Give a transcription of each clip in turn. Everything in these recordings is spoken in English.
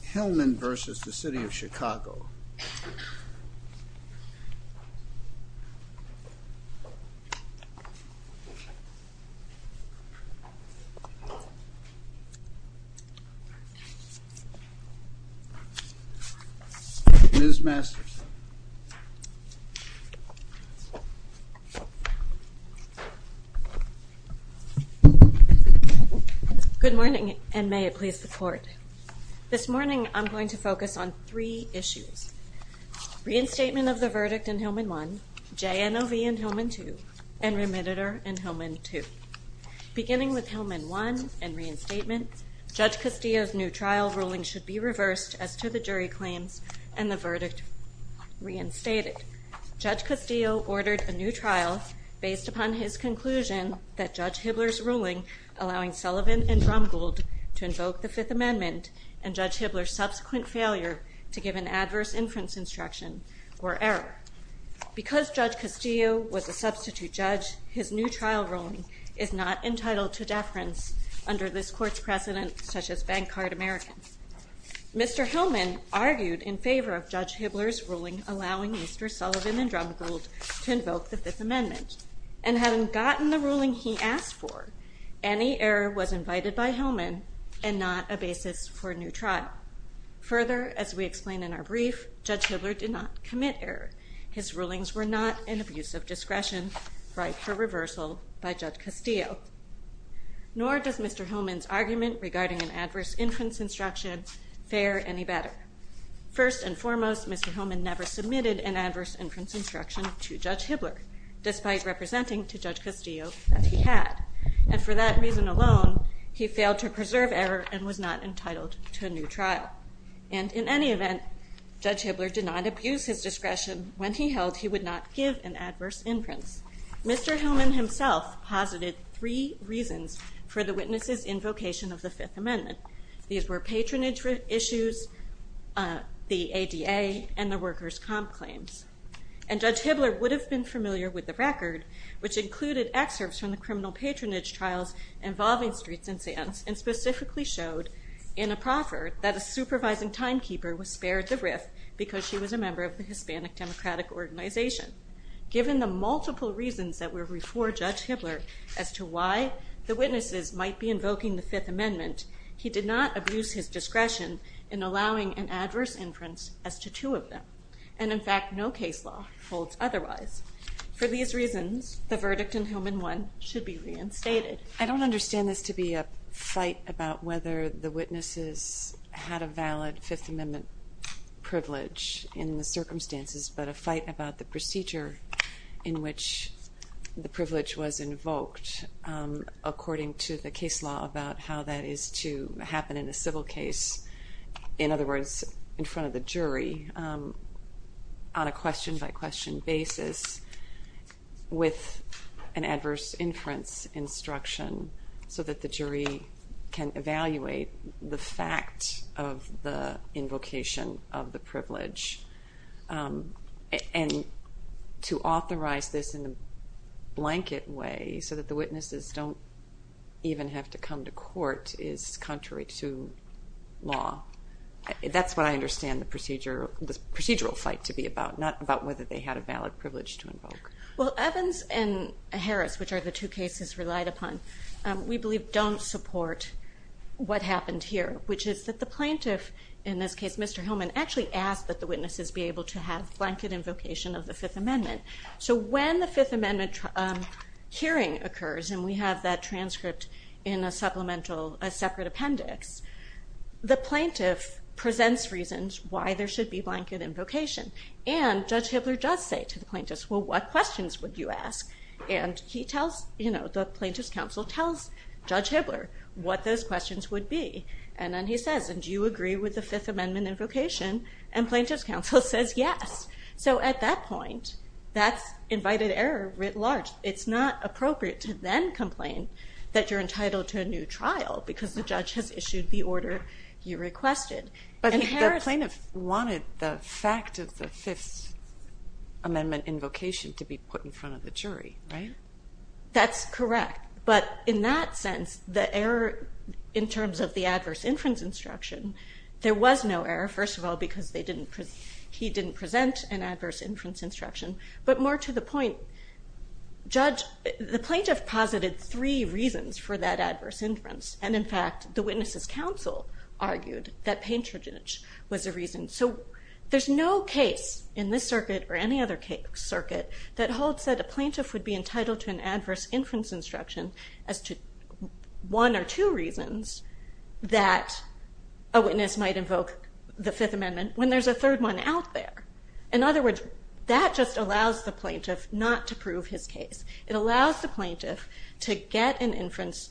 Hillmann v. City of Chicago Ms. Masterson Good morning, and may it please the court This morning, I'm going to focus on three issues. Reinstatement of the verdict in Hillmann 1, J.N.O.V. in Hillmann 2, and Remediter in Hillmann 2. Beginning with Hillmann 1 and reinstatement, Judge Castillo's new trial ruling should be reversed as to the jury claims and the verdict reinstated. Judge Castillo ordered a new trial based upon his conclusion that Judge Hibbler's ruling allowing Sullivan and Drumgold to invoke the Fifth Amendment and Judge Hibbler's subsequent failure to give an adverse inference instruction were error. Because Judge Castillo was a substitute judge, his new trial ruling is not entitled to deference under this court's precedent such as bank card Americans. Mr. Hillmann argued in favor of Judge Hibbler's ruling allowing Mr. Sullivan and Drumgold to invoke the Fifth Amendment and having gotten the ruling he asked for, any error was invited by Hillmann and not a basis for a new trial. Further, as we explain in our brief, Judge Hibbler did not commit error. His rulings were not an abuse of discretion right for reversal by Judge Castillo. Nor does Mr. Hillmann's argument regarding an adverse inference instruction fare any better. First and foremost, Mr. Hillmann never submitted an adverse inference instruction to Judge Hibbler, despite representing to Judge Castillo that he had. And for that reason alone, he failed to preserve error and was not entitled to a new trial. And in any event, Judge Hibbler did not abuse his discretion when he held he would not give an adverse inference. Mr. Hillmann himself posited three reasons for the witnesses' invocation of the Fifth Amendment. These were patronage issues, the ADA, and the workers' comp claims. And Judge Hibbler would have been familiar with the record, which included excerpts from the criminal patronage trials involving Streets and Sands and specifically showed in a proffer that a supervising timekeeper was spared the riff because she was a member of the Hispanic Democratic Organization. Given the multiple reasons that were before Judge Hibbler as to why the witnesses might be invoking the Fifth Amendment, he did not abuse his discretion in allowing an adverse inference as to two of them. And in fact, no case law holds otherwise. For these reasons, the verdict in Hillmann won should be reinstated. I don't understand this to be a fight about whether the witnesses had a valid Fifth Amendment privilege in the circumstances, but a fight about the procedure in which the privilege was invoked according to the case law about how that is to happen in a civil case. In other words, in front of the jury on a question-by-question basis with an adverse inference instruction so that the jury can evaluate the fact of the invocation of the privilege and to authorize this in a blanket way so that the witnesses don't even have to come to court is contrary to law. That's what I understand the procedural fight to be about, not about whether they had a valid privilege to invoke. Well, Evans and Harris, which are the two cases relied upon, we believe don't support what happened here, which is that the plaintiff, in this case Mr. Hillmann, actually asked that the witnesses be able to have blanket invocation of the Fifth Amendment. So when the Fifth Amendment hearing occurs, and we have that transcript in a supplemental, a separate appendix, the plaintiff presents reasons why there should be blanket invocation. And Judge Hibbler does say to the plaintiff, well, what questions would you ask? And the plaintiff's counsel tells Judge Hibbler what those questions would be. And then he says, and do you agree with the Fifth Amendment invocation? And plaintiff's counsel says yes. So at that point, that's invited error writ large. It's not appropriate to then complain that you're entitled to a new trial because the judge has issued the order you requested. But the plaintiff wanted the fact of the Fifth Amendment invocation to be put in front of the jury, right? That's correct. But in that sense, the error in terms of the adverse inference instruction, there was no error, first of all, because he didn't present an adverse inference instruction. But more to the point, the plaintiff posited three reasons for that adverse inference. And in fact, the witness's counsel argued that patronage was a reason. So there's no case in this circuit or any other circuit that holds that a plaintiff would be entitled to an adverse inference instruction as to one or two reasons that a witness might invoke the Fifth Amendment when there's a third one out there. In other words, that just allows the plaintiff not to prove his case. It allows the plaintiff to get an inference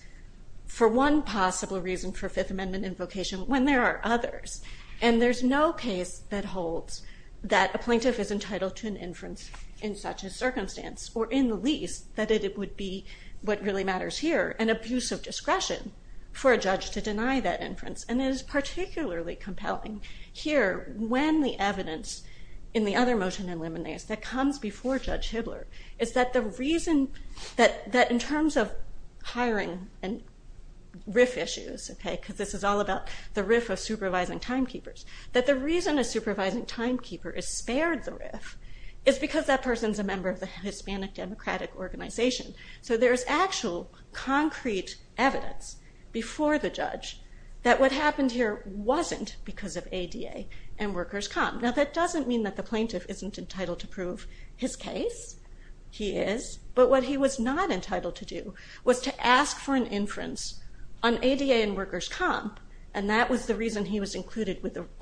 for one possible reason for Fifth Amendment invocation when there are others. And there's no case that holds that a plaintiff is entitled to an inference in such a circumstance, or in the least, that it would be what really matters here, an abuse of discretion for a judge to deny that inference. And it is particularly compelling here when the evidence in the other motion in limineus that comes before Judge Hibbler is that the reason that in terms of hiring and RIF issues, because this is all about the RIF of supervising timekeepers, that the reason a supervising timekeeper is spared the RIF is because that person is a member of the Hispanic Democratic Organization. So there is actual concrete evidence before the judge that what happened here wasn't because of ADA and workers' comp. Now that doesn't mean that the plaintiff isn't entitled to prove his case. He is. But what he was not entitled to do was to ask for an inference on ADA and workers' comp, and that was the reason he was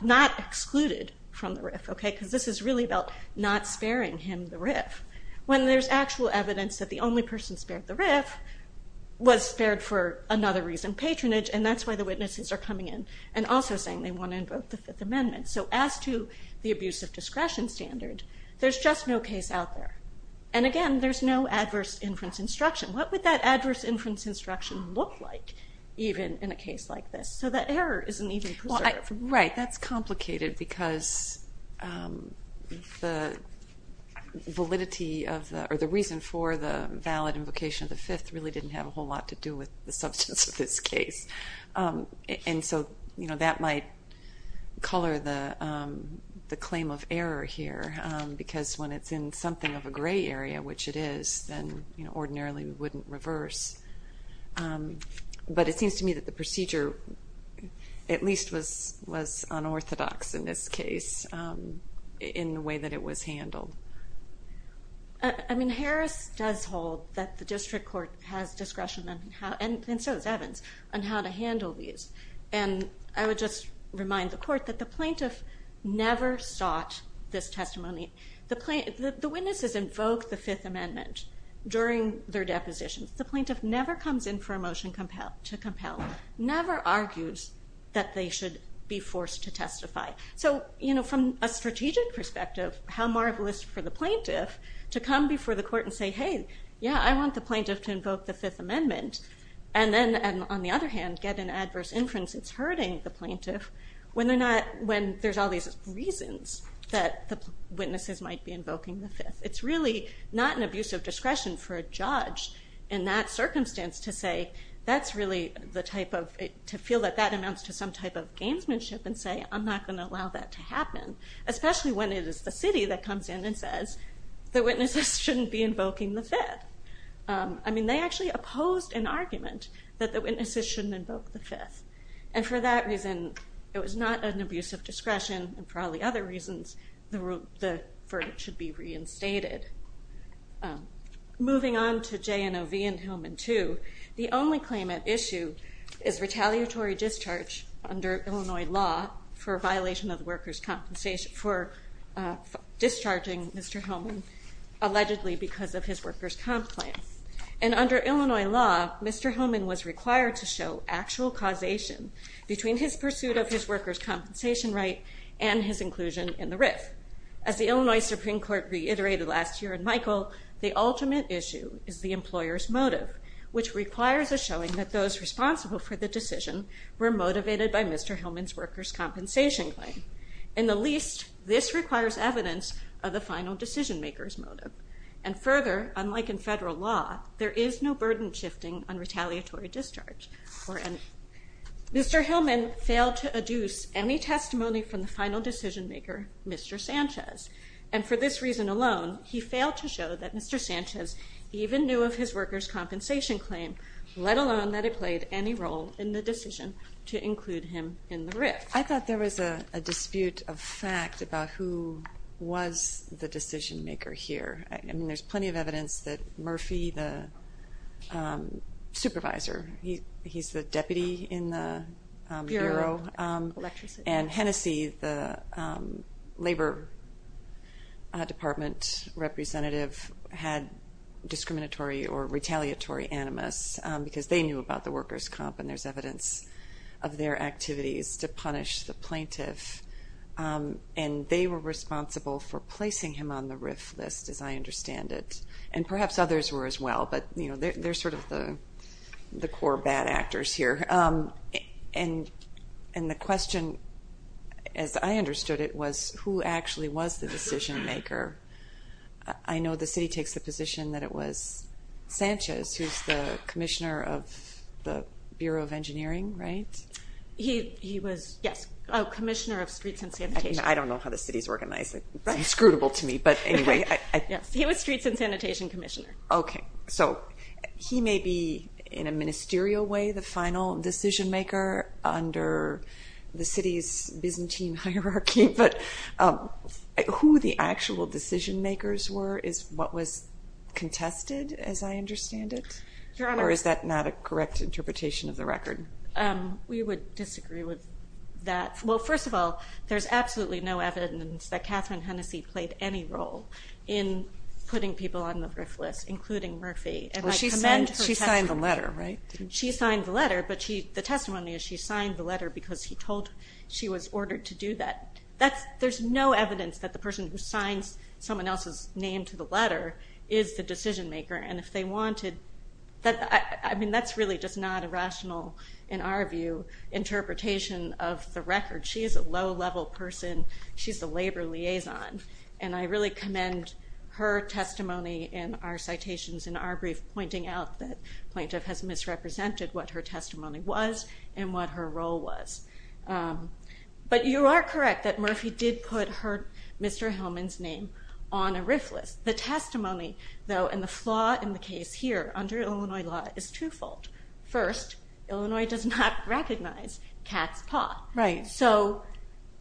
not excluded from the RIF, because this is really about not sparing him the RIF. When there's actual evidence that the only person spared the RIF was spared for another reason, patronage, and that's why the witnesses are coming in and also saying they want to invoke the Fifth Amendment. So as to the abuse of discretion standard, there's just no case out there. And again, there's no adverse inference instruction. What would that adverse inference instruction look like even in a case like this? So that error isn't even preserved. Right, that's complicated because the validity or the reason for the valid invocation of the Fifth really didn't have a whole lot to do with the substance of this case. And so that might color the claim of error here because when it's in something of a gray area, which it is, then ordinarily we wouldn't reverse. But it seems to me that the procedure at least was unorthodox in this case in the way that it was handled. I mean, Harris does hold that the district court has discretion, and so does Evans, on how to handle these. And I would just remind the court that the plaintiff never sought this testimony. The witnesses invoked the Fifth Amendment during their depositions. The plaintiff never comes in for a motion to compel, never argues that they should be forced to testify. So from a strategic perspective, how marvelous for the plaintiff to come before the court and say, hey, yeah, I want the plaintiff to invoke the Fifth Amendment and then, on the other hand, get an adverse inference that's hurting the plaintiff when there's all these reasons that the witnesses might be invoking the Fifth. It's really not an abuse of discretion for a judge in that circumstance to say that's really the type of— especially when it is the city that comes in and says the witnesses shouldn't be invoking the Fifth. I mean, they actually opposed an argument that the witnesses shouldn't invoke the Fifth. And for that reason, it was not an abuse of discretion. And for all the other reasons, the verdict should be reinstated. Moving on to J&O v. Hillman II, the only claim at issue is retaliatory discharge under Illinois law for violation of workers' compensation—for discharging Mr. Hillman allegedly because of his workers' comp plan. And under Illinois law, Mr. Hillman was required to show actual causation between his pursuit of his workers' compensation right and his inclusion in the RIF. As the Illinois Supreme Court reiterated last year in Michael, the ultimate issue is the employer's motive, which requires a showing that those responsible for the decision were motivated by Mr. Hillman's workers' compensation claim. In the least, this requires evidence of the final decision-maker's motive. And further, unlike in federal law, there is no burden shifting on retaliatory discharge. Mr. Hillman failed to adduce any testimony from the final decision-maker, Mr. Sanchez. And for this reason alone, he failed to show that Mr. Sanchez even knew of his workers' compensation claim, let alone that it played any role in the decision to include him in the RIF. I thought there was a dispute of fact about who was the decision-maker here. I mean, there's plenty of evidence that Murphy, the supervisor, he's the deputy in the bureau. And Hennessey, the labor department representative, had discriminatory or retaliatory animus because they knew about the workers' comp, and there's evidence of their activities to punish the plaintiff. And they were responsible for placing him on the RIF list, as I understand it. And perhaps others were as well, but they're sort of the core bad actors here. And the question, as I understood it, was who actually was the decision-maker? I know the city takes the position that it was Sanchez, who's the commissioner of the Bureau of Engineering, right? He was, yes, a commissioner of Streets and Sanitation. I don't know how the city is organized. It's inscrutable to me, but anyway. Yes, he was Streets and Sanitation commissioner. Okay, so he may be in a ministerial way the final decision-maker under the city's Byzantine hierarchy, but who the actual decision-makers were is what was contested, as I understand it? Your Honor. Or is that not a correct interpretation of the record? We would disagree with that. Well, first of all, there's absolutely no evidence that Catherine Hennessy played any role in putting people on the RIF list, including Murphy. Well, she signed the letter, right? She signed the letter, but the testimony is she signed the letter because he told her she was ordered to do that. There's no evidence that the person who signs someone else's name to the letter is the decision-maker. I mean, that's really just not a rational, in our view, interpretation of the record. She is a low-level person. She's a labor liaison, and I really commend her testimony in our citations in our brief, pointing out that the plaintiff has misrepresented what her testimony was and what her role was. But you are correct that Murphy did put Mr. Hillman's name on a RIF list. The testimony, though, and the flaw in the case here under Illinois law is twofold. First, Illinois does not recognize Cat's Paw. Right. So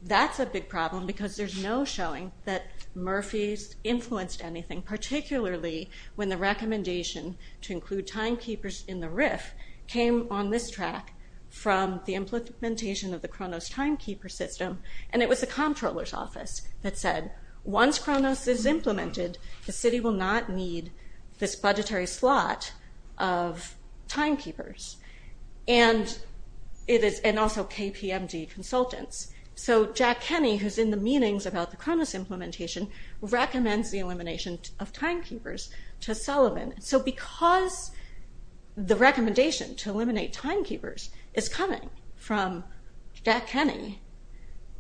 that's a big problem because there's no showing that Murphy's influenced anything, particularly when the recommendation to include timekeepers in the RIF came on this track from the implementation of the Kronos timekeeper system, and it was the comptroller's office that said once Kronos is implemented, the city will not need this budgetary slot of timekeepers, and also KPMG consultants. So Jack Kenney, who's in the meetings about the Kronos implementation, recommends the elimination of timekeepers to Sullivan. So because the recommendation to eliminate timekeepers is coming from Jack Kenney,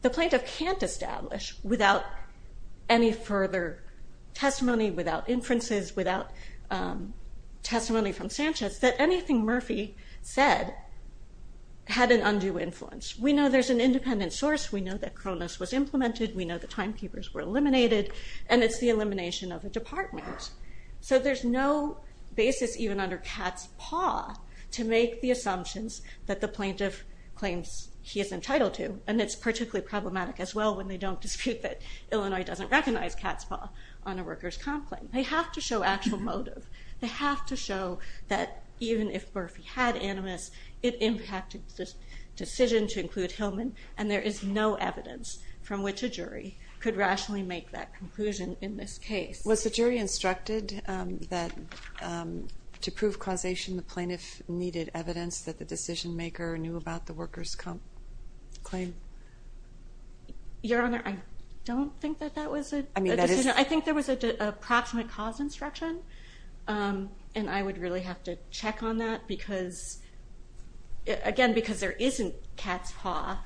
the plaintiff can't establish without any further testimony, without inferences, without testimony from Sanchez, that anything Murphy said had an undue influence. We know there's an independent source. We know that Kronos was implemented. We know the timekeepers were eliminated, and it's the elimination of a department. So there's no basis even under Cat's Paw to make the assumptions that the plaintiff claims he is entitled to, and it's particularly problematic as well when they don't dispute that Illinois doesn't recognize Cat's Paw on a workers' comp claim. They have to show actual motive. They have to show that even if Murphy had animus, it impacted the decision to include Hillman, and there is no evidence from which a jury could rationally make that conclusion in this case. Was the jury instructed that to prove causation, the plaintiff needed evidence that the decision-maker knew about the workers' comp claim? Your Honor, I don't think that that was a decision. I think there was an approximate cause instruction, and I would really have to check on that because, again, because there isn't Cat's Paw,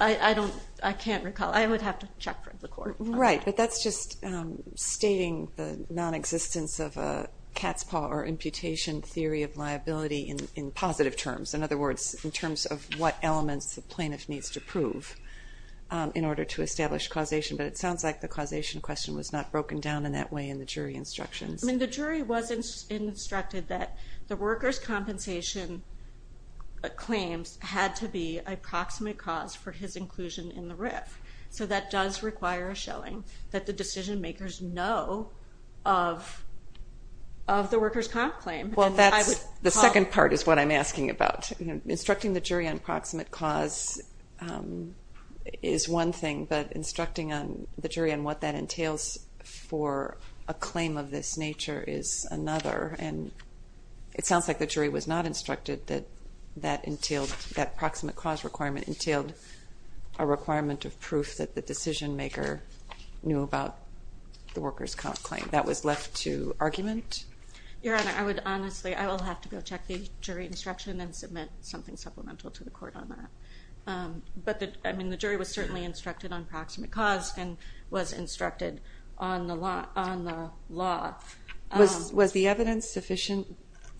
I can't recall. I would have to check with the court. Right, but that's just stating the nonexistence of a Cat's Paw or imputation theory of liability in positive terms. In other words, in terms of what elements the plaintiff needs to prove in order to establish causation, but it sounds like the causation question was not broken down in that way in the jury instructions. I mean, the jury was instructed that the workers' compensation claims had to be an approximate cause for his inclusion in the RIF. So that does require a showing that the decision-makers know of the workers' comp claim. The second part is what I'm asking about. Instructing the jury on approximate cause is one thing, but instructing the jury on what that entails for a claim of this nature is another, and it sounds like the jury was not instructed that that proximate cause requirement entailed a requirement of proof that the decision-maker knew about the workers' comp claim. That was left to argument? Your Honor, I would honestly, I will have to go check the jury instruction and submit something supplemental to the court on that. But, I mean, the jury was certainly instructed on proximate cause and was instructed on the law. Was the evidence sufficient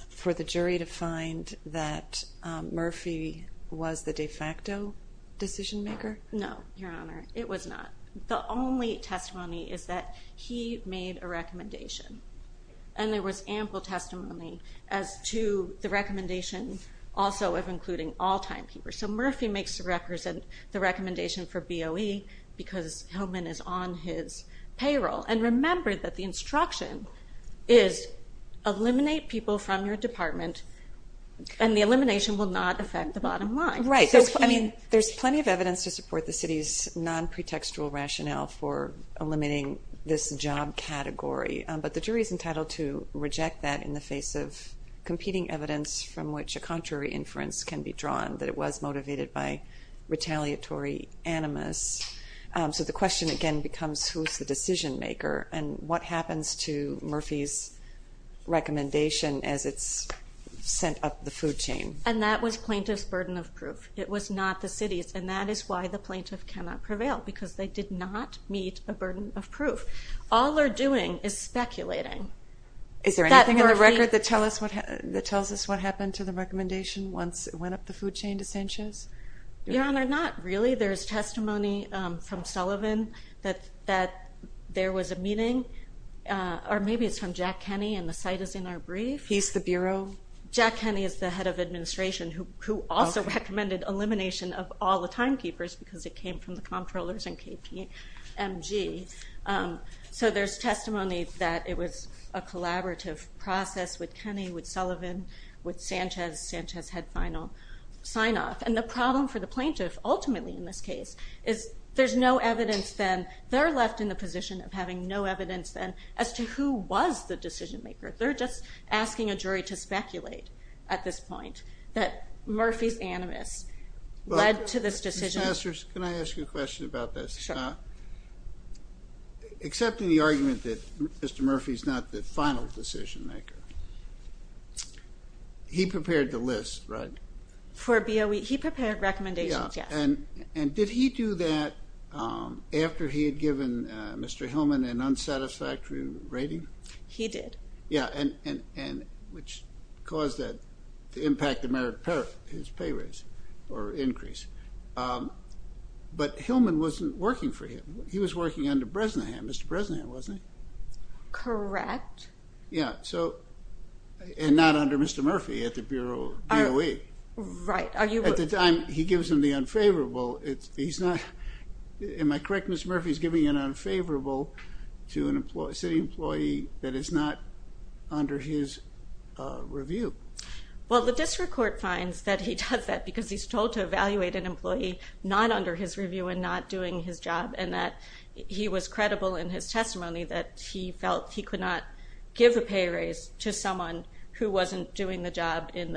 for the jury to find that Murphy was the de facto decision-maker? No, Your Honor, it was not. The only testimony is that he made a recommendation, and there was ample testimony as to the recommendation also of including all timekeepers. So Murphy makes the recommendation for BOE because Hillman is on his payroll. And remember that the instruction is eliminate people from your department, and the elimination will not affect the bottom line. Right. I mean, there's plenty of evidence to support the city's non-pretextual rationale for eliminating this job category, but the jury is entitled to reject that in the face of competing evidence from which a contrary inference can be drawn that it was motivated by retaliatory animus. So the question again becomes who's the decision-maker, and what happens to Murphy's recommendation as it's sent up the food chain? And that was plaintiff's burden of proof. It was not the city's, and that is why the plaintiff cannot prevail because they did not meet a burden of proof. All they're doing is speculating. Is there anything in the record that tells us what happened to the recommendation once it went up the food chain to Sanchez? Your Honor, not really. There's testimony from Sullivan that there was a meeting, or maybe it's from Jack Kenney, and the site is in our brief. He's the bureau? Jack Kenney is the head of administration who also recommended elimination of all the timekeepers because it came from the comptrollers and KPMG. So there's testimony that it was a collaborative process with Kenney, with Sullivan, with Sanchez, Sanchez had final sign-off. And the problem for the plaintiff ultimately in this case is there's no evidence then. They're left in the position of having no evidence then as to who was the decision-maker. They're just asking a jury to speculate at this point that Murphy's animus led to this decision. Can I ask you a question about this? Sure. Accepting the argument that Mr. Murphy's not the final decision-maker, he prepared the list, right? For BOE, he prepared recommendations, yes. And did he do that after he had given Mr. Hillman an unsatisfactory rating? He did. Yeah, and which caused the impact of his pay raise or increase. But Hillman wasn't working for him. He was working under Bresnahan, Mr. Bresnahan, wasn't he? Correct. Yeah, and not under Mr. Murphy at the BOE. Right. At the time, he gives him the unfavorable. Am I correct? Mr. Murphy's giving an unfavorable to a city employee that is not under his review. Well, the district court finds that he does that because he's told to evaluate an employee not under his review and not doing his job, and that he was credible in his testimony that he felt he could not give a pay raise to someone who wasn't doing the job in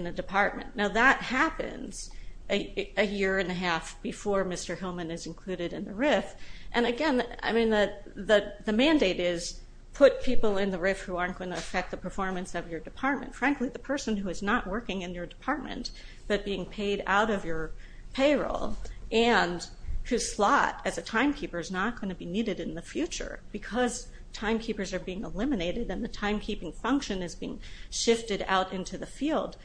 the department. Now, that happens a year and a half before Mr. Hillman is included in the RIF. And, again, I mean the mandate is put people in the RIF who aren't going to affect the performance of your department. Frankly, the person who is not working in your department but being paid out of your payroll and whose slot as a timekeeper is not going to be needed in the future because timekeepers are being eliminated and the timekeeping function is being shifted out into the field,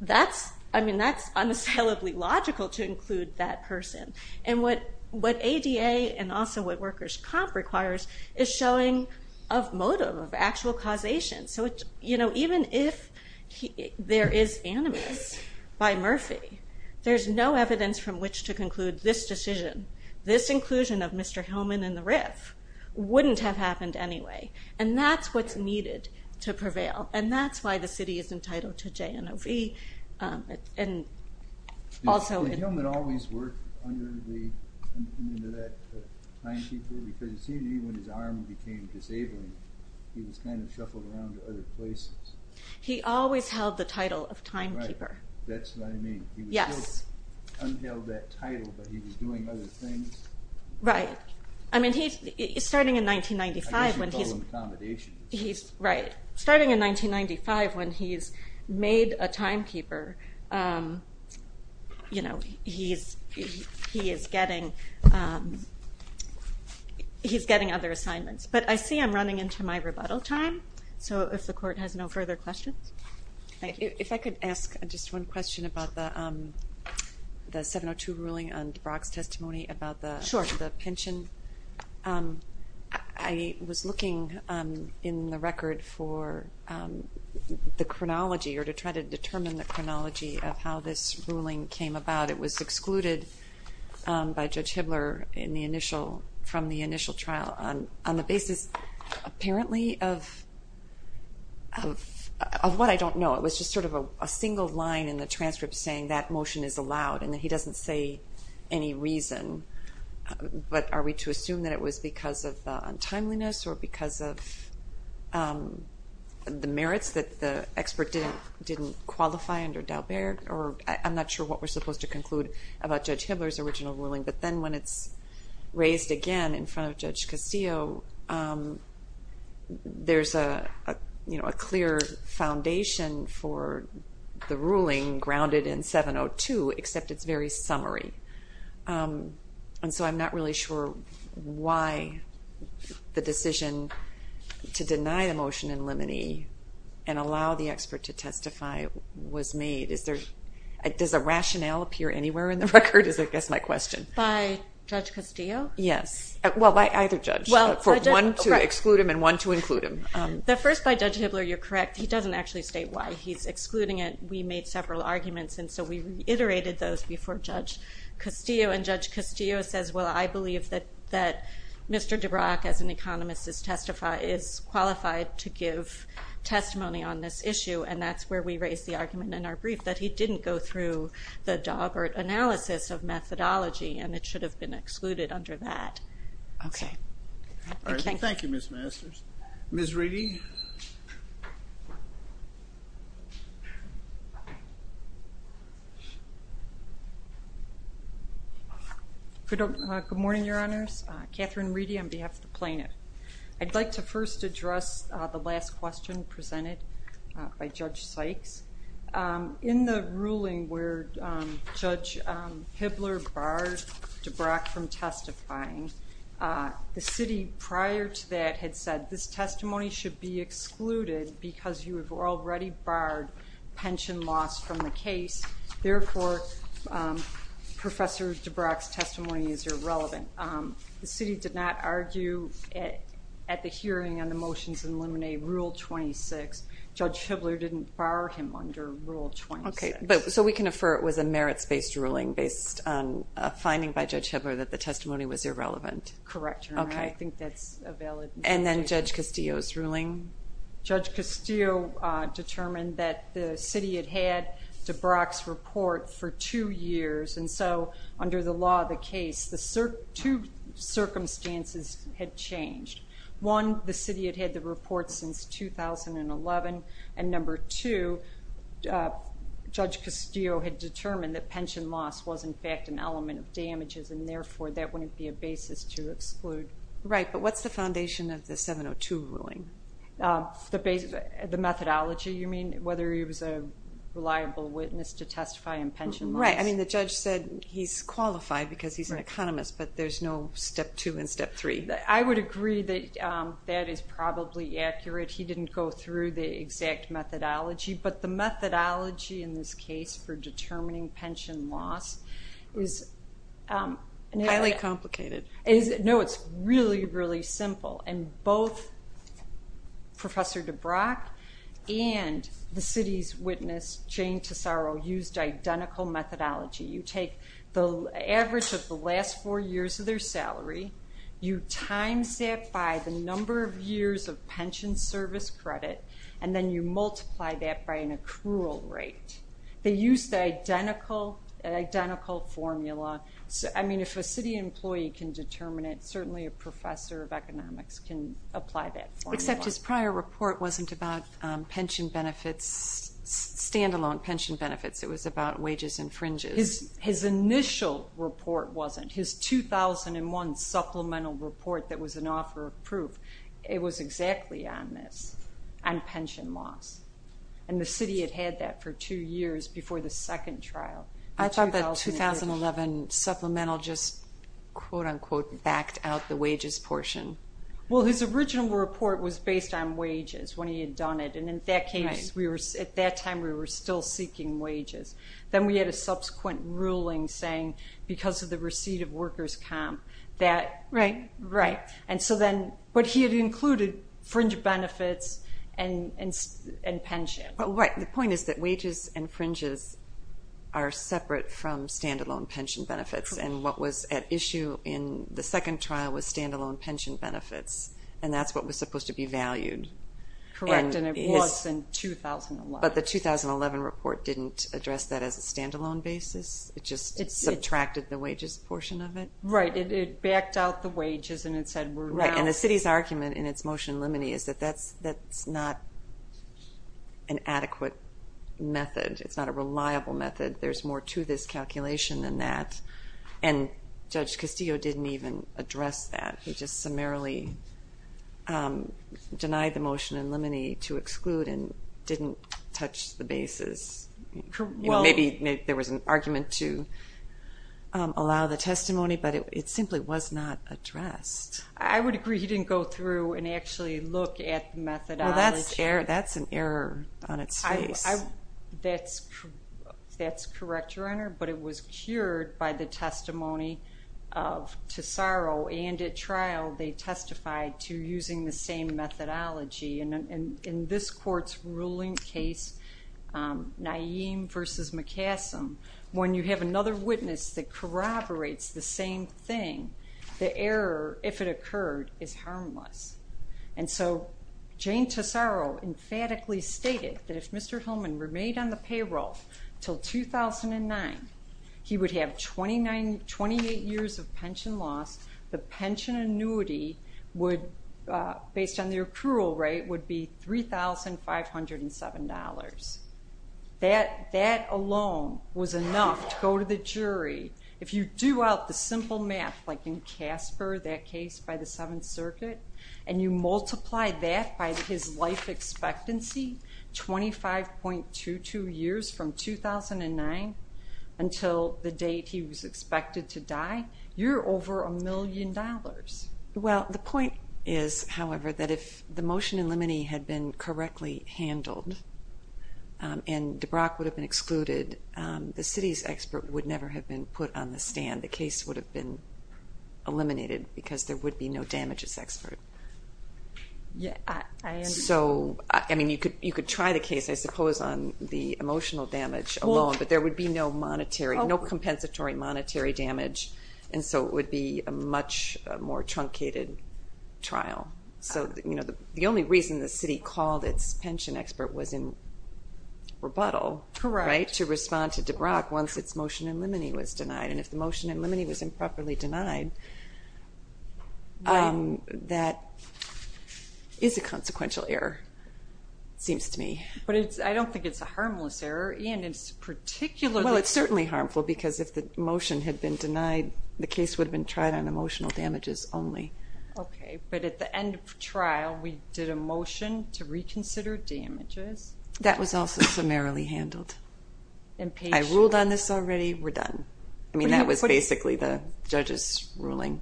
that's unassailably logical to include that person. And what ADA and also what workers' comp requires is showing a motive of actual causation. So, you know, even if there is animus by Murphy, there's no evidence from which to conclude this decision, this inclusion of Mr. Hillman in the RIF, wouldn't have happened anyway. And that's what's needed to prevail, and that's why the city is entitled to JNOV. Did Hillman always work under that timekeeper? Because it seemed to me when his arm became disabled, he was kind of shuffled around to other places. He always held the title of timekeeper. Right, that's what I mean. He still unheld that title, but he was doing other things. Right. I mean, starting in 1995, when he's made a timekeeper, he is getting other assignments. But I see I'm running into my rebuttal time, so if the court has no further questions. If I could ask just one question about the 702 ruling on DeBrock's testimony about the pension. Sure. I was looking in the record for the chronology or to try to determine the chronology of how this ruling came about. It was excluded by Judge Hibbler from the initial trial on the basis, apparently, of what I don't know. It was just sort of a single line in the transcript saying that motion is allowed, and that he doesn't say any reason. But are we to assume that it was because of untimeliness or because of the merits that the expert didn't qualify under Daubert? I'm not sure what we're supposed to conclude about Judge Hibbler's original ruling. But then when it's raised again in front of Judge Castillo, there's a clear foundation for the ruling grounded in 702, except it's very summary. And so I'm not really sure why the decision to deny the motion in limine and allow the expert to testify was made. Does a rationale appear anywhere in the record is, I guess, my question. By Judge Castillo? Yes. Well, by either judge. For one to exclude him and one to include him. The first by Judge Hibbler, you're correct. He doesn't actually state why he's excluding it. We made several arguments, and so we reiterated those before Judge Castillo. And Judge Castillo says, well, I believe that Mr. DeBrock, as an economist, is qualified to give testimony on this issue. And that's where we raised the argument in our brief that he didn't go through the Daubert analysis of methodology, and it should have been excluded under that. Okay. Thank you, Ms. Masters. Ms. Reedy? Good morning, Your Honors. Katherine Reedy on behalf of the plaintiff. I'd like to first address the last question presented by Judge Sykes. In the ruling where Judge Hibbler barred DeBrock from testifying, the city prior to that had said this testimony should be excluded because you have already barred pension loss from the case. Therefore, Professor DeBrock's testimony is irrelevant. The city did not argue at the hearing on the motions in Luminae Rule 26. Judge Hibbler didn't bar him under Rule 26. Okay. So we can infer it was a merits-based ruling based on a finding by Judge Hibbler that the testimony was irrelevant. Correct, Your Honor. Okay. I think that's a valid argument. And then Judge Castillo's ruling? Judge Castillo determined that the city had had DeBrock's report for two years. And so under the law of the case, two circumstances had changed. One, the city had had the report since 2011. And number two, Judge Castillo had determined that pension loss was, in fact, an element of damages. And therefore, that wouldn't be a basis to exclude. Right, but what's the foundation of the 702 ruling? The methodology, you mean, whether he was a reliable witness to testify on pension loss? Right. I mean, the judge said he's qualified because he's an economist, but there's no step two and step three. I would agree that that is probably accurate. He didn't go through the exact methodology. But the methodology in this case for determining pension loss is highly complicated. No, it's really, really simple. And both Professor DeBrock and the city's witness, Jane Tesoro, used identical methodology. You take the average of the last four years of their salary. You times that by the number of years of pension service credit. And then you multiply that by an accrual rate. They used the identical formula. I mean, if a city employee can determine it, certainly a professor of economics can apply that formula. Except his prior report wasn't about pension benefits, stand-alone pension benefits. It was about wages and fringes. His initial report wasn't. His 2001 supplemental report that was an offer of proof, it was exactly on this, on pension loss. And the city had had that for two years before the second trial. I thought the 2011 supplemental just, quote-unquote, backed out the wages portion. Well, his original report was based on wages when he had done it. And in that case, at that time, we were still seeking wages. Then we had a subsequent ruling saying, because of the receipt of workers' comp, that, right? Right. And so then, but he had included fringe benefits and pension. Right. The point is that wages and fringes are separate from stand-alone pension benefits. And what was at issue in the second trial was stand-alone pension benefits. And that's what was supposed to be valued. Correct. And it was in 2011. But the 2011 report didn't address that as a stand-alone basis. It just subtracted the wages portion of it. Right. It backed out the wages and it said we're now. And the city's argument in its motion in limine is that that's not an adequate method. It's not a reliable method. There's more to this calculation than that. And Judge Castillo didn't even address that. He just summarily denied the motion in limine to exclude and didn't touch the basis. Maybe there was an argument to allow the testimony, but it simply was not addressed. I would agree he didn't go through and actually look at the methodology. Well, that's an error on its face. That's correct, Your Honor. But it was cured by the testimony of Tesaro. And at trial, they testified to using the same methodology. And in this court's ruling case, Naeem v. McCaslam, when you have another witness that corroborates the same thing, the error, if it occurred, is harmless. And so Jane Tesaro emphatically stated that if Mr. Hillman remained on the payroll until 2009, he would have 28 years of pension loss. The pension annuity, based on the accrual rate, would be $3,507. If you do out the simple math, like in Casper, that case by the Seventh Circuit, and you multiply that by his life expectancy, 25.22 years from 2009 until the date he was expected to die, you're over a million dollars. Well, the point is, however, that if the motion in limine had been correctly handled and DeBrock would have been excluded, the city's expert would never have been put on the stand. The case would have been eliminated because there would be no damages expert. So, I mean, you could try the case, I suppose, on the emotional damage alone, but there would be no monetary, no compensatory monetary damage, and so it would be a much more truncated trial. So, you know, the only reason the city called its pension expert was in rebuttal, right, to respond to DeBrock once its motion in limine was denied. And if the motion in limine was improperly denied, that is a consequential error, seems to me. But I don't think it's a harmless error. Well, it's certainly harmful because if the motion had been denied, the case would have been tried on emotional damages only. Okay. But at the end of trial, we did a motion to reconsider damages. That was also summarily handled. I ruled on this already. We're done. I mean, that was basically the judge's ruling.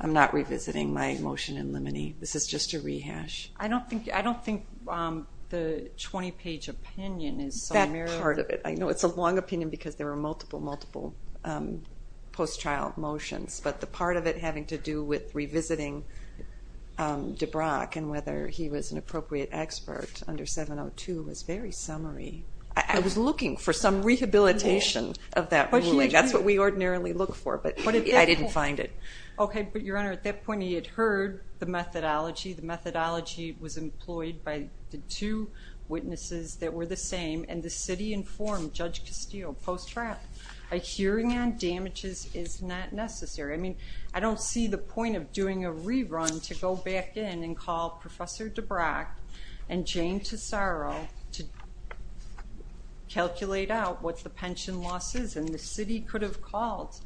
I'm not revisiting my motion in limine. This is just a rehash. I don't think the 20-page opinion is summarily. That part of it. I know it's a long opinion because there were multiple, multiple post-trial motions, but the part of it having to do with revisiting DeBrock and whether he was an appropriate expert under 702 was very summary. I was looking for some rehabilitation of that ruling. That's what we ordinarily look for, but I didn't find it. Okay, but, Your Honor, at that point he had heard the methodology. The methodology was employed by the two witnesses that were the same, and the city informed Judge Castillo post-trial, that a hearing on damages is not necessary. I mean, I don't see the point of doing a rerun to go back in and call Professor DeBrock and Jane Tesoro to calculate out what the pension loss is, and the city could have called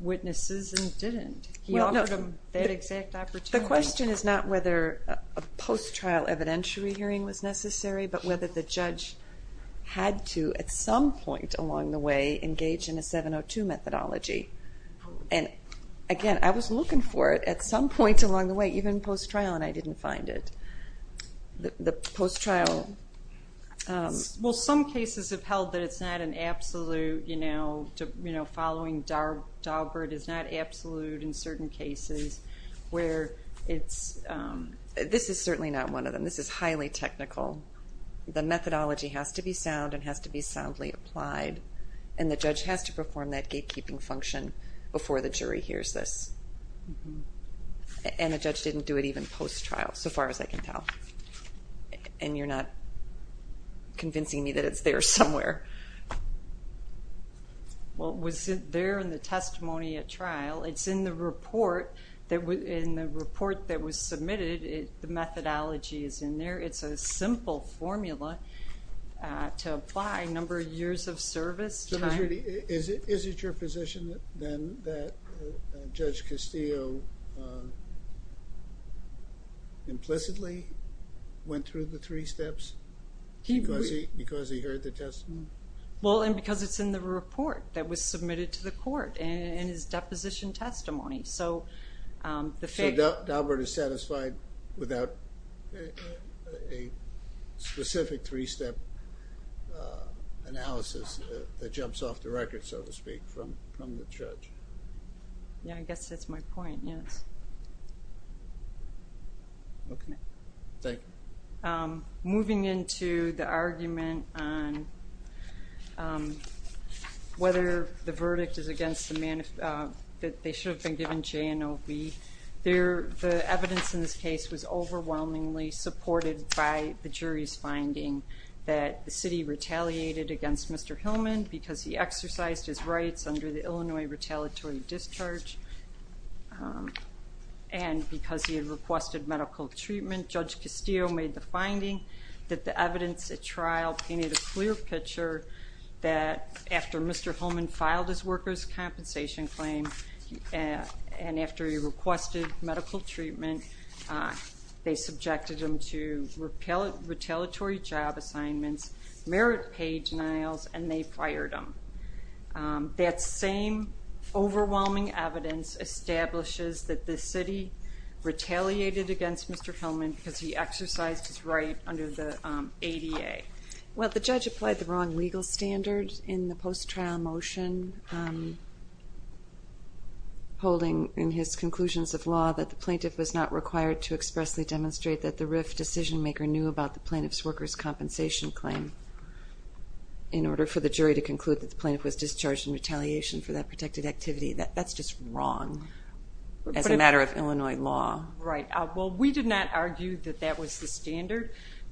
witnesses and didn't. He offered them that exact opportunity. The question is not whether a post-trial evidentiary hearing was necessary, but whether the judge had to, at some point along the way, engage in a 702 methodology. And, again, I was looking for it at some point along the way, even post-trial, and I didn't find it. The post-trial... Well, some cases have held that it's not an absolute, you know, following Daubert is not absolute in certain cases where it's... This is certainly not one of them. This is highly technical. The methodology has to be sound and has to be soundly applied, and the judge has to perform that gatekeeping function before the jury hears this. And the judge didn't do it even post-trial, so far as I can tell. And you're not convincing me that it's there somewhere. Well, it was there in the testimony at trial. It's in the report. In the report that was submitted, the methodology is in there. It's a simple formula to apply, number of years of service, time. Is it your position, then, that Judge Castillo implicitly went through the three steps because he heard the testimony? Well, and because it's in the report that was submitted to the court, and it's deposition testimony. So Daubert is satisfied without a specific three-step analysis that jumps off the record, so to speak, from the judge. Yeah, I guess that's my point, yes. Thank you. Moving into the argument on whether the verdict is against the man, that they should have been given J&OB, the evidence in this case was overwhelmingly supported by the jury's finding that the city retaliated against Mr. Hillman because he exercised his rights under the Illinois retaliatory discharge, and because he had requested medical treatment. Judge Castillo made the finding that the evidence at trial painted a clear picture that, after Mr. Hillman filed his workers' compensation claim and after he requested medical treatment, they subjected him to retaliatory job assignments, merit pay denials, and they fired him. That same overwhelming evidence establishes that the city retaliated against Mr. Hillman because he exercised his right under the ADA. Well, the judge applied the wrong legal standards in the post-trial motion, holding in his conclusions of law that the plaintiff was not required to expressly demonstrate that the RIF decision-maker knew about the plaintiff's workers' compensation claim in order for the jury to conclude that the plaintiff was discharged in retaliation for that protected activity. That's just wrong as a matter of Illinois law. Right. Well, we did not argue that that was the standard,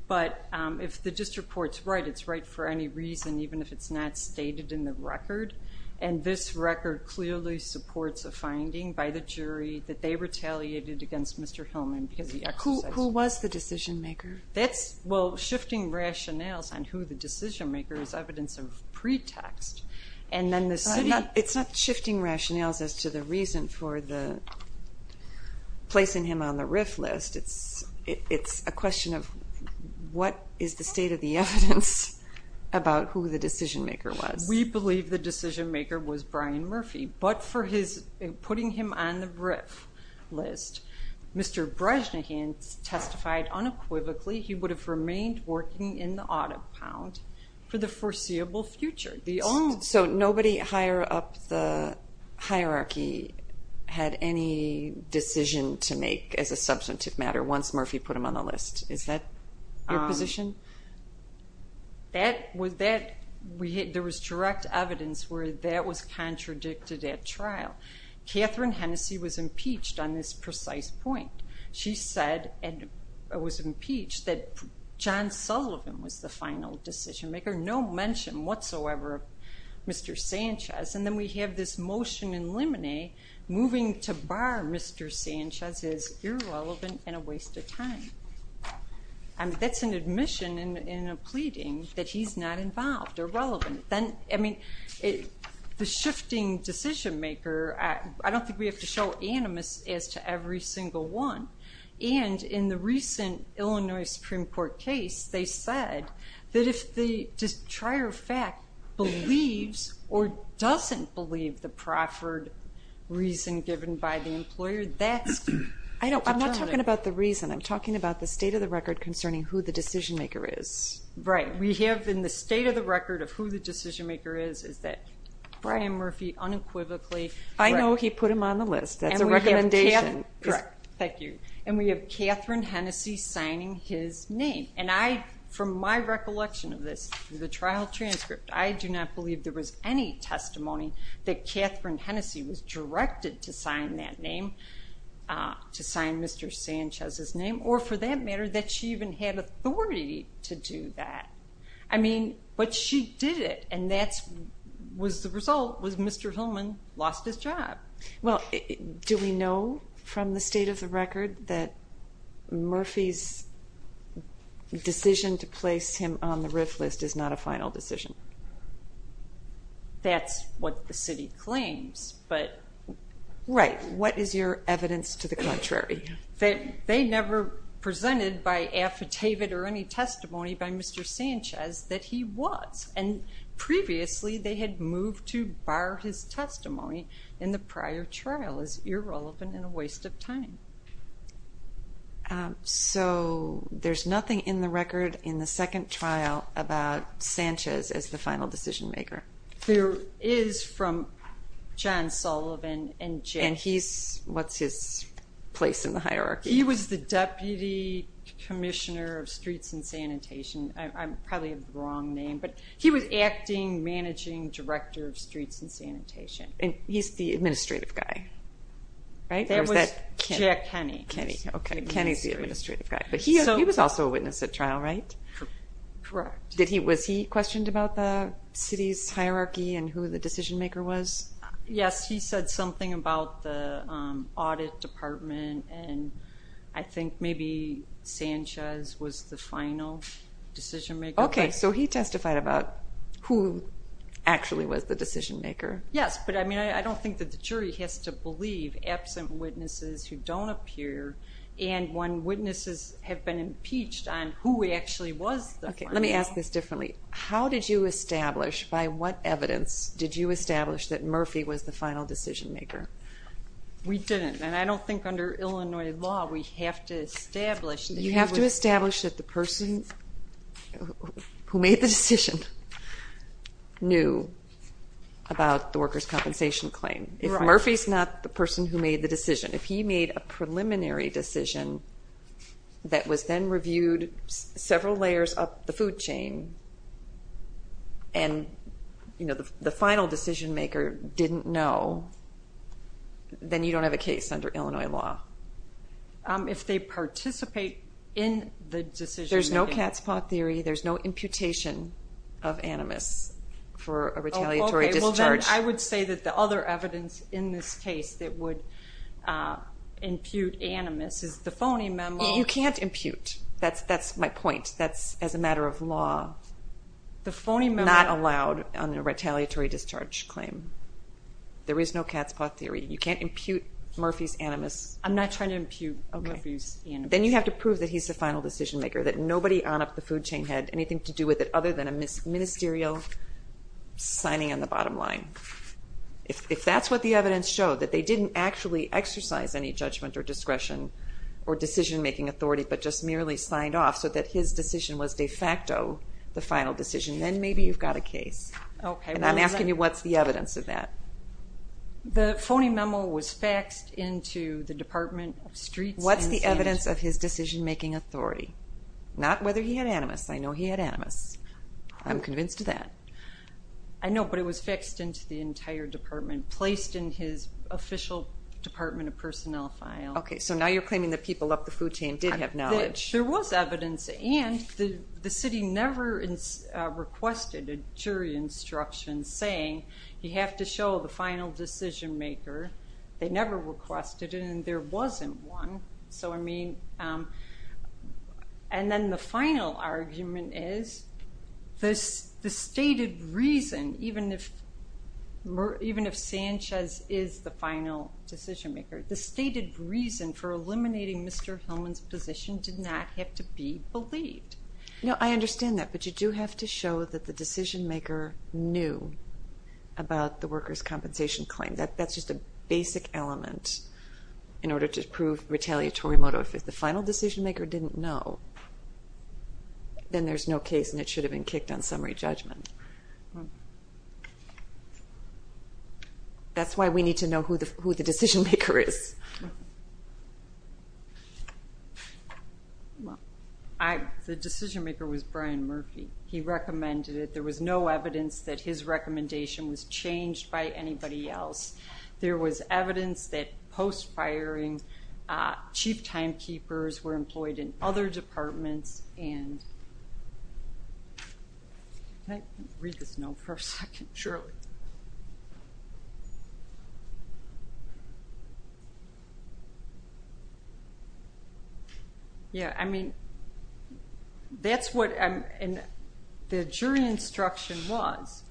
but if the district court's right, it's right for any reason, even if it's not stated in the record, and this record clearly supports a finding by the jury that they retaliated against Mr. Hillman because he exercised his right. Who was the decision-maker? Well, shifting rationales on who the decision-maker is evidence of pretext, and then the city... It's not shifting rationales as to the reason for the placing him on the RIF list. It's a question of what is the state of the evidence about who the decision-maker was. We believe the decision-maker was Brian Murphy, but for putting him on the RIF list, Mr. Bresnahan testified unequivocally he would have remained working in the audit pound for the foreseeable future. So nobody higher up the hierarchy had any decision to make as a substantive matter once Murphy put him on the list. Is that your position? There was direct evidence where that was contradicted at trial. Catherine Hennessey was impeached on this precise point. She said and was impeached that John Sullivan was the final decision-maker, and there's no mention whatsoever of Mr. Sanchez. And then we have this motion in limine moving to bar Mr. Sanchez as irrelevant and a waste of time. That's an admission in a pleading that he's not involved or relevant. Then, I mean, the shifting decision-maker, I don't think we have to show animus as to every single one. And in the recent Illinois Supreme Court case, they said that if the trier of fact believes or doesn't believe the proffered reason given by the employer, that's determined. I'm not talking about the reason. I'm talking about the state of the record concerning who the decision-maker is. Right. We have in the state of the record of who the decision-maker is is that Brian Murphy unequivocally. I know he put him on the list. That's a recommendation. Correct. Thank you. And we have Catherine Hennessy signing his name. And I, from my recollection of this, the trial transcript, I do not believe there was any testimony that Catherine Hennessy was directed to sign that name, to sign Mr. Sanchez's name, or for that matter, that she even had authority to do that. I mean, but she did it, and that was the result was Mr. Hillman lost his job. Well, do we know from the state of the record that Murphy's decision to place him on the RIF list is not a final decision? That's what the city claims. Right. What is your evidence to the contrary? They never presented by affidavit or any testimony by Mr. Sanchez that he was. And previously, they had moved to bar his testimony in the prior trial. It's irrelevant and a waste of time. So there's nothing in the record in the second trial about Sanchez as the final decision-maker? There is from John Sullivan. And he's, what's his place in the hierarchy? He was the Deputy Commissioner of Streets and Sanitation. I probably have the wrong name, but he was Acting Managing Director of Streets and Sanitation. And he's the administrative guy, right? Jack Kenney. Okay, Kenney's the administrative guy. But he was also a witness at trial, right? Correct. Was he questioned about the city's hierarchy and who the decision-maker was? Yes, he said something about the audit department, and I think maybe Sanchez was the final decision-maker. Okay, so he testified about who actually was the decision-maker? Yes, but I mean I don't think that the jury has to believe absent witnesses who don't appear and when witnesses have been impeached on who actually was the final. Okay, let me ask this differently. How did you establish, by what evidence did you establish that Murphy was the final decision-maker? We didn't, and I don't think under Illinois law we have to establish that he was. You have to establish that the person who made the decision knew about the workers' compensation claim. If Murphy's not the person who made the decision, if he made a preliminary decision that was then reviewed several layers up the food chain and the final decision-maker didn't know, then you don't have a case under Illinois law. If they participate in the decision-making? There's no cat's paw theory. There's no imputation of animus for a retaliatory discharge. Okay, well then I would say that the other evidence in this case that would impute animus is the phony memo. You can't impute. That's my point. That's as a matter of law not allowed on a retaliatory discharge claim. There is no cat's paw theory. You can't impute Murphy's animus. I'm not trying to impute Murphy's animus. Then you have to prove that he's the final decision-maker, that nobody on up the food chain had anything to do with it other than a ministerial signing on the bottom line. If that's what the evidence showed, that they didn't actually exercise any judgment or discretion or decision-making authority but just merely signed off so that his decision was de facto the final decision, then maybe you've got a case. And I'm asking you what's the evidence of that. The phony memo was faxed into the Department of Streets. What's the evidence of his decision-making authority? Not whether he had animus. I know he had animus. I'm convinced of that. I know, but it was faxed into the entire department, placed in his official Department of Personnel file. Okay, so now you're claiming that people up the food chain did have knowledge. There was evidence, and the city never requested a jury instruction saying you have to show the final decision-maker. They never requested it, and there wasn't one. So, I mean, and then the final argument is the stated reason, even if Sanchez is the final decision-maker, the stated reason for eliminating Mr. Hillman's position did not have to be believed. No, I understand that, but you do have to show that the decision-maker knew about the workers' compensation claim. That's just a basic element in order to prove retaliatory motto. If the final decision-maker didn't know, then there's no case, and it should have been kicked on summary judgment. That's why we need to know who the decision-maker is. The decision-maker was Brian Murphy. He recommended it. There was no evidence that his recommendation was changed by anybody else. There was evidence that post-firing chief timekeepers were employed in other departments, and can I read this note for a second, Shirley? Yeah, I mean, that's what the jury instruction was,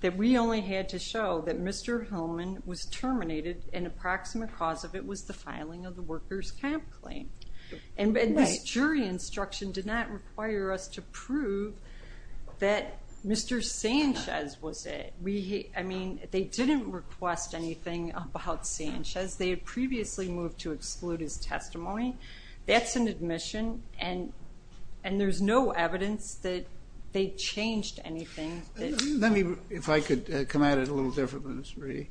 that we only had to show that Mr. Hillman was terminated, and approximate cause of it was the filing of the workers' comp claim. And this jury instruction did not require us to prove that Mr. Sanchez was it. I mean, they didn't request anything about Sanchez. They had previously moved to exclude his testimony. That's an admission, and there's no evidence that they changed anything. Let me, if I could come at it a little different than this, Marie.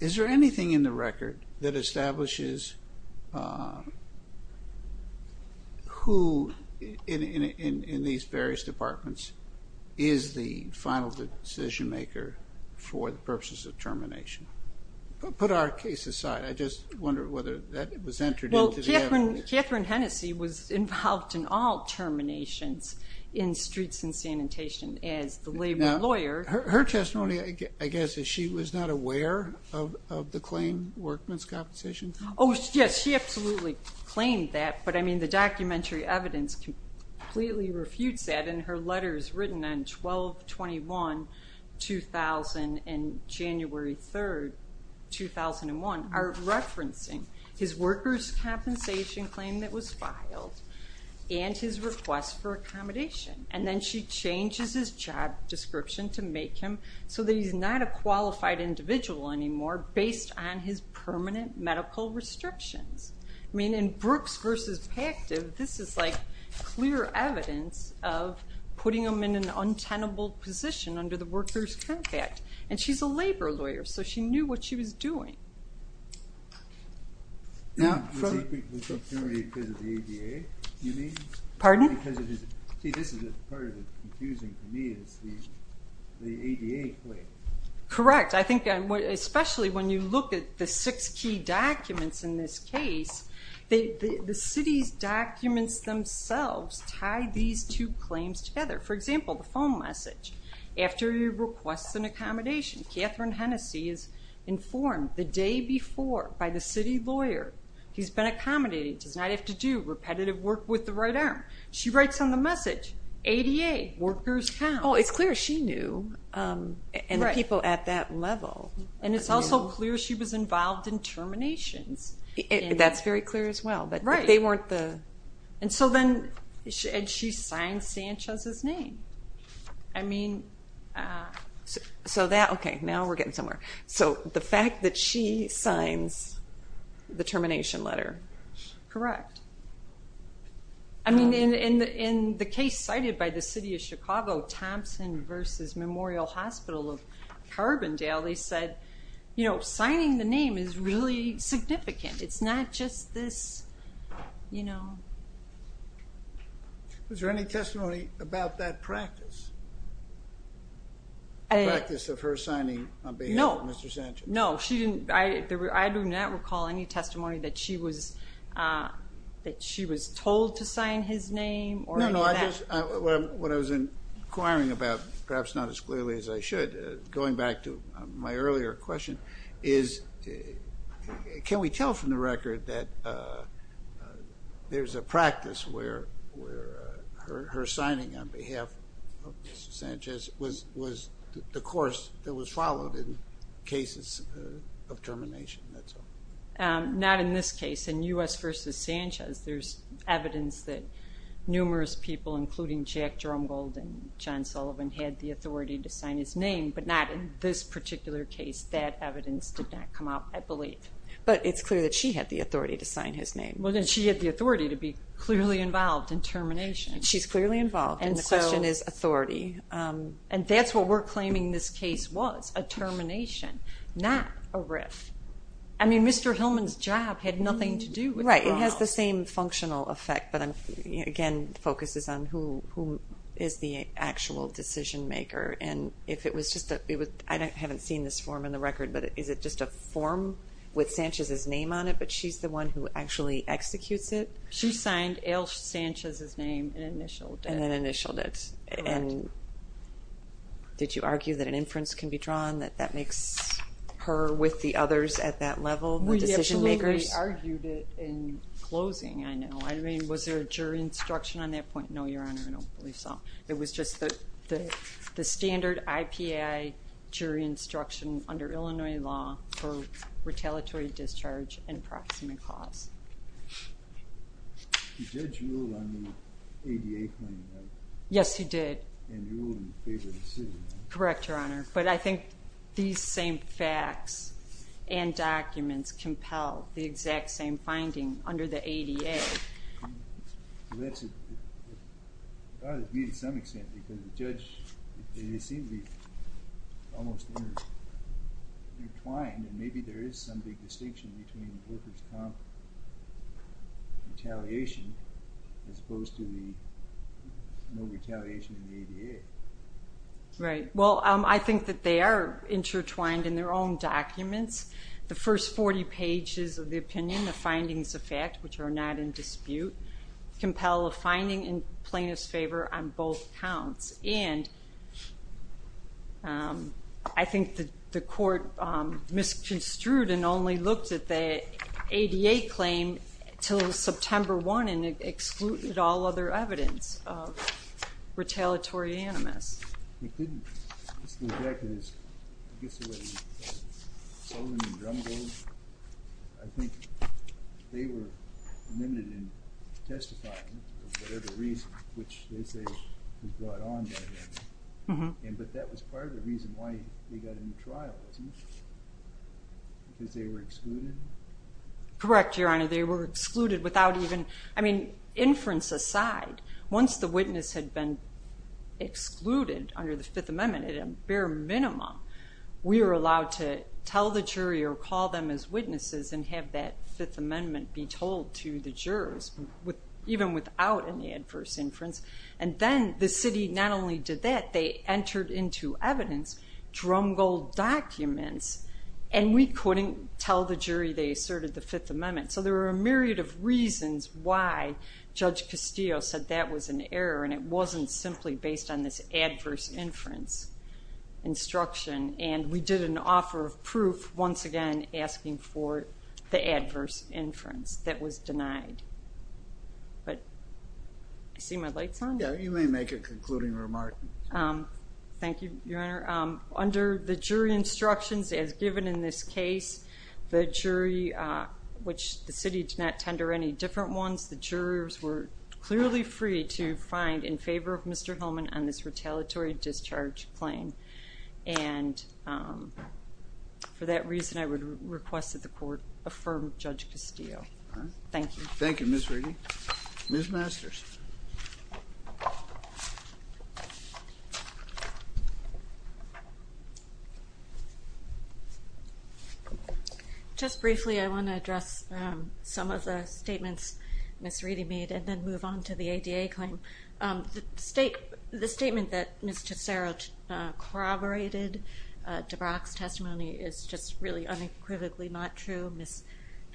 Is there anything in the record that establishes who, in these various departments, is the final decision-maker for the purposes of termination? Put our case aside. I just wonder whether that was entered into the evidence. Catherine Hennessey was involved in all terminations in streets and sanitation as the labor lawyer. Now, her testimony, I guess, is she was not aware of the claim, workman's compensation? Oh, yes, she absolutely claimed that, but, I mean, the documentary evidence completely refutes that, and her letters written on 12-21-2000 and January 3, 2001, are referencing his workers' compensation claim that was filed and his request for accommodation. And then she changes his job description to make him so that he's not a qualified individual anymore based on his permanent medical restrictions. I mean, in Brooks v. Pactive, this is like clear evidence of putting him in an untenable position under the Workers' Compact, and she's a labor lawyer, so she knew what she was doing. Now, let's take the opportunity because of the ADA, you mean? Pardon? See, this is the part that's confusing to me, is the ADA claim. Correct. I think especially when you look at the six key documents in this case, the city's documents themselves tie these two claims together. For example, the phone message. After he requests an accommodation, Catherine Hennessey is informed the day before by the city lawyer he's been accommodating, does not have to do repetitive work with the right arm. She writes on the message, ADA, workers' comp. Oh, it's clear she knew, and the people at that level. And it's also clear she was involved in terminations. That's very clear as well, but they weren't the... And so then she signs Sanchez's name. I mean, so that, okay, now we're getting somewhere. Correct. I mean, in the case cited by the city of Chicago, Thompson v. Memorial Hospital of Carbondale, they said, you know, signing the name is really significant. It's not just this, you know... Was there any testimony about that practice? The practice of her signing on behalf of Mr. Sanchez? No, she didn't. I do not recall any testimony that she was told to sign his name or any of that. No, no. What I was inquiring about, perhaps not as clearly as I should, going back to my earlier question, is can we tell from the record that there's a practice where her signing on behalf of Mr. Sanchez was the course that was followed in cases of termination? Not in this case. In U.S. v. Sanchez, there's evidence that numerous people, including Jack Drumgold and John Sullivan, had the authority to sign his name, but not in this particular case. That evidence did not come out, I believe. But it's clear that she had the authority to sign his name. Well, then she had the authority to be clearly involved in termination. She's clearly involved, and the question is authority. And that's what we're claiming this case was, a termination, not a writ. I mean, Mr. Hillman's job had nothing to do with it at all. Right. It has the same functional effect, but, again, focuses on who is the actual decision maker. And if it was just a – I haven't seen this form in the record, but is it just a form with Sanchez's name on it, but she's the one who actually executes it? She signed L. Sanchez's name and initialed it. And then initialed it. Correct. And did you argue that an inference can be drawn, that that makes her with the others at that level, the decision makers? We absolutely argued it in closing, I know. I mean, was there a jury instruction on that point? No, Your Honor, I don't believe so. It was just the standard IPI jury instruction under Illinois law for retaliatory discharge and proximate cause. The judge ruled on the ADA claim, right? Yes, he did. And ruled in favor of the city, right? Correct, Your Honor. But I think these same facts and documents compel the exact same finding under the ADA. So that's a – it ought to be to some extent, because the judge, they seem to be almost intertwined, and maybe there is some big distinction between the Wilkerson's comp retaliation as opposed to the no retaliation in the ADA. Right. Well, I think that they are intertwined in their own documents. The first 40 pages of the opinion, the findings of fact, which are not in dispute, compel a finding in plaintiff's favor on both counts. And I think that the court misconstrued and only looked at the ADA claim until September 1 and excluded all other evidence of retaliatory animus. It didn't. It's the fact that it's, I guess, a way of solving the drumroll. I think they were limited in testifying for whatever reason, which they say was brought on by them. But that was part of the reason why they got in the trial, wasn't it? Because they were excluded? Correct, Your Honor. They were excluded without even – I mean, inference aside, once the witness had been excluded under the Fifth Amendment, at a bare minimum, we were allowed to tell the jury or call them as witnesses and have that Fifth Amendment be told to the jurors, even without an adverse inference. And then the city not only did that, they entered into evidence, drumrolled documents, and we couldn't tell the jury they asserted the Fifth Amendment. So there were a myriad of reasons why Judge Castillo said that was an error, and it wasn't simply based on this adverse inference instruction. And we did an offer of proof, once again, asking for the adverse inference that was denied. But do you see my lights on? Yeah, you may make a concluding remark. Thank you, Your Honor. Under the jury instructions as given in this case, the jury, which the city did not tender any different ones, the jurors were clearly free to find in favor of Mr. Hillman on this retaliatory discharge claim. And for that reason, I would request that the court affirm Judge Castillo. Thank you. Thank you, Ms. Reedy. Ms. Masters. Just briefly, I want to address some of the statements Ms. Reedy made and then move on to the ADA claim. The statement that Ms. Tesoro corroborated DeBrock's testimony is just really unequivocally not true. Ms.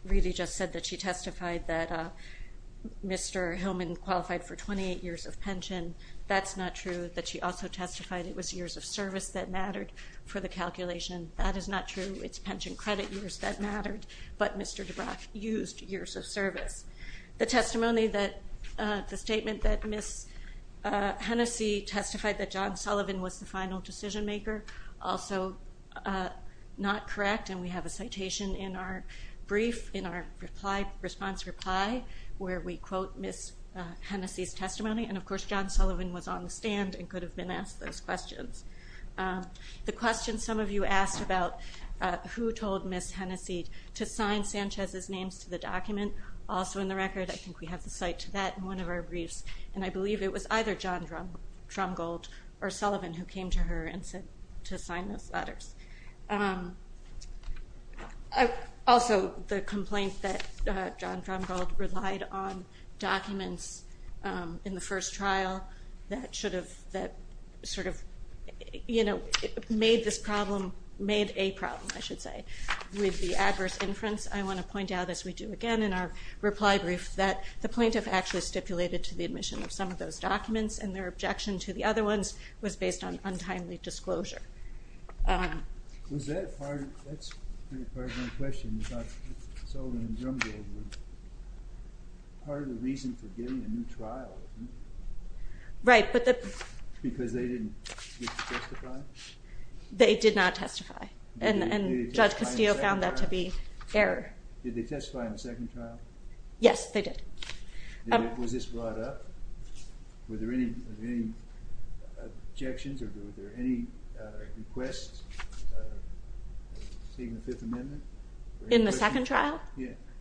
Reedy just said that she testified that Mr. Hillman qualified for 28 years of pension. That's not true. That she also testified it was years of service that mattered for the calculation. That is not true. It's pension credit years that mattered. But Mr. DeBrock used years of service. The testimony that the statement that Ms. Hennessey testified that John Sullivan was the final decision maker, also not correct. And we have a citation in our brief, in our response reply, where we quote Ms. Hennessey's testimony. And, of course, John Sullivan was on the stand and could have been asked those questions. The question some of you asked about who told Ms. Hennessey to sign John Sanchez's names to the document, also in the record. I think we have the cite to that in one of our briefs. And I believe it was either John Drumgold or Sullivan who came to her and said to sign those letters. Also, the complaint that John Drumgold relied on documents in the first trial that sort of made this problem, made a problem, I should say, with the adverse inference. I want to point out, as we do again in our reply brief, that the plaintiff actually stipulated to the admission of some of those documents and their objection to the other ones was based on untimely disclosure. Was that part of the reason for getting a new trial? Right. Because they didn't testify? They did not testify. Okay. And Judge Castillo found that to be error. Did they testify in the second trial? Yes, they did. Was this brought up? Were there any objections or were there any requests of taking the Fifth Amendment? In the second trial?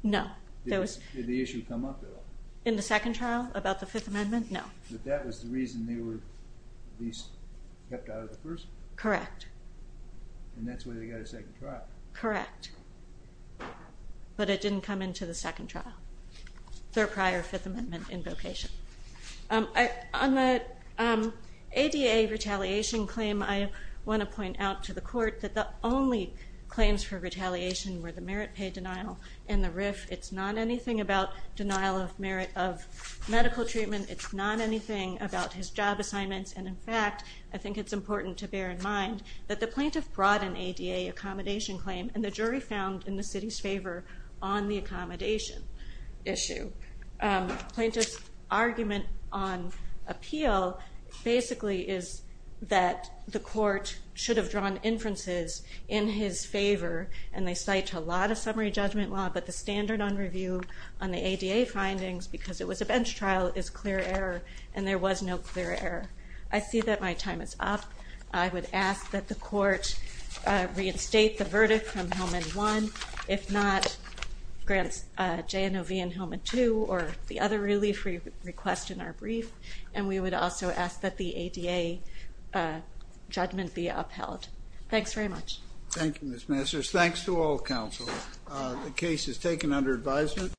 No. Did the issue come up at all? In the second trial about the Fifth Amendment? No. But that was the reason they were at least kept out of the first one? Correct. And that's why they got a second trial? Correct. But it didn't come into the second trial, their prior Fifth Amendment invocation. On the ADA retaliation claim, I want to point out to the court that the only claims for retaliation were the merit pay denial and the RIF. It's not anything about denial of merit of medical treatment. It's not anything about his job assignments. And, in fact, I think it's important to bear in mind that the plaintiff brought an ADA accommodation claim and the jury found in the city's favor on the accommodation issue. Plaintiff's argument on appeal basically is that the court should have drawn inferences in his favor, and they cite a lot of summary judgment law, but the standard on review on the ADA findings because it was a bench trial is clear error, and there was no clear error. I see that my time is up. I would ask that the court reinstate the verdict from Helmand 1. If not, grant JNOV in Helmand 2 or the other relief request in our brief, and we would also ask that the ADA judgment be upheld. Thanks very much. Thank you, Ms. Messrs. Thanks to all counsel. The case is taken under advisement.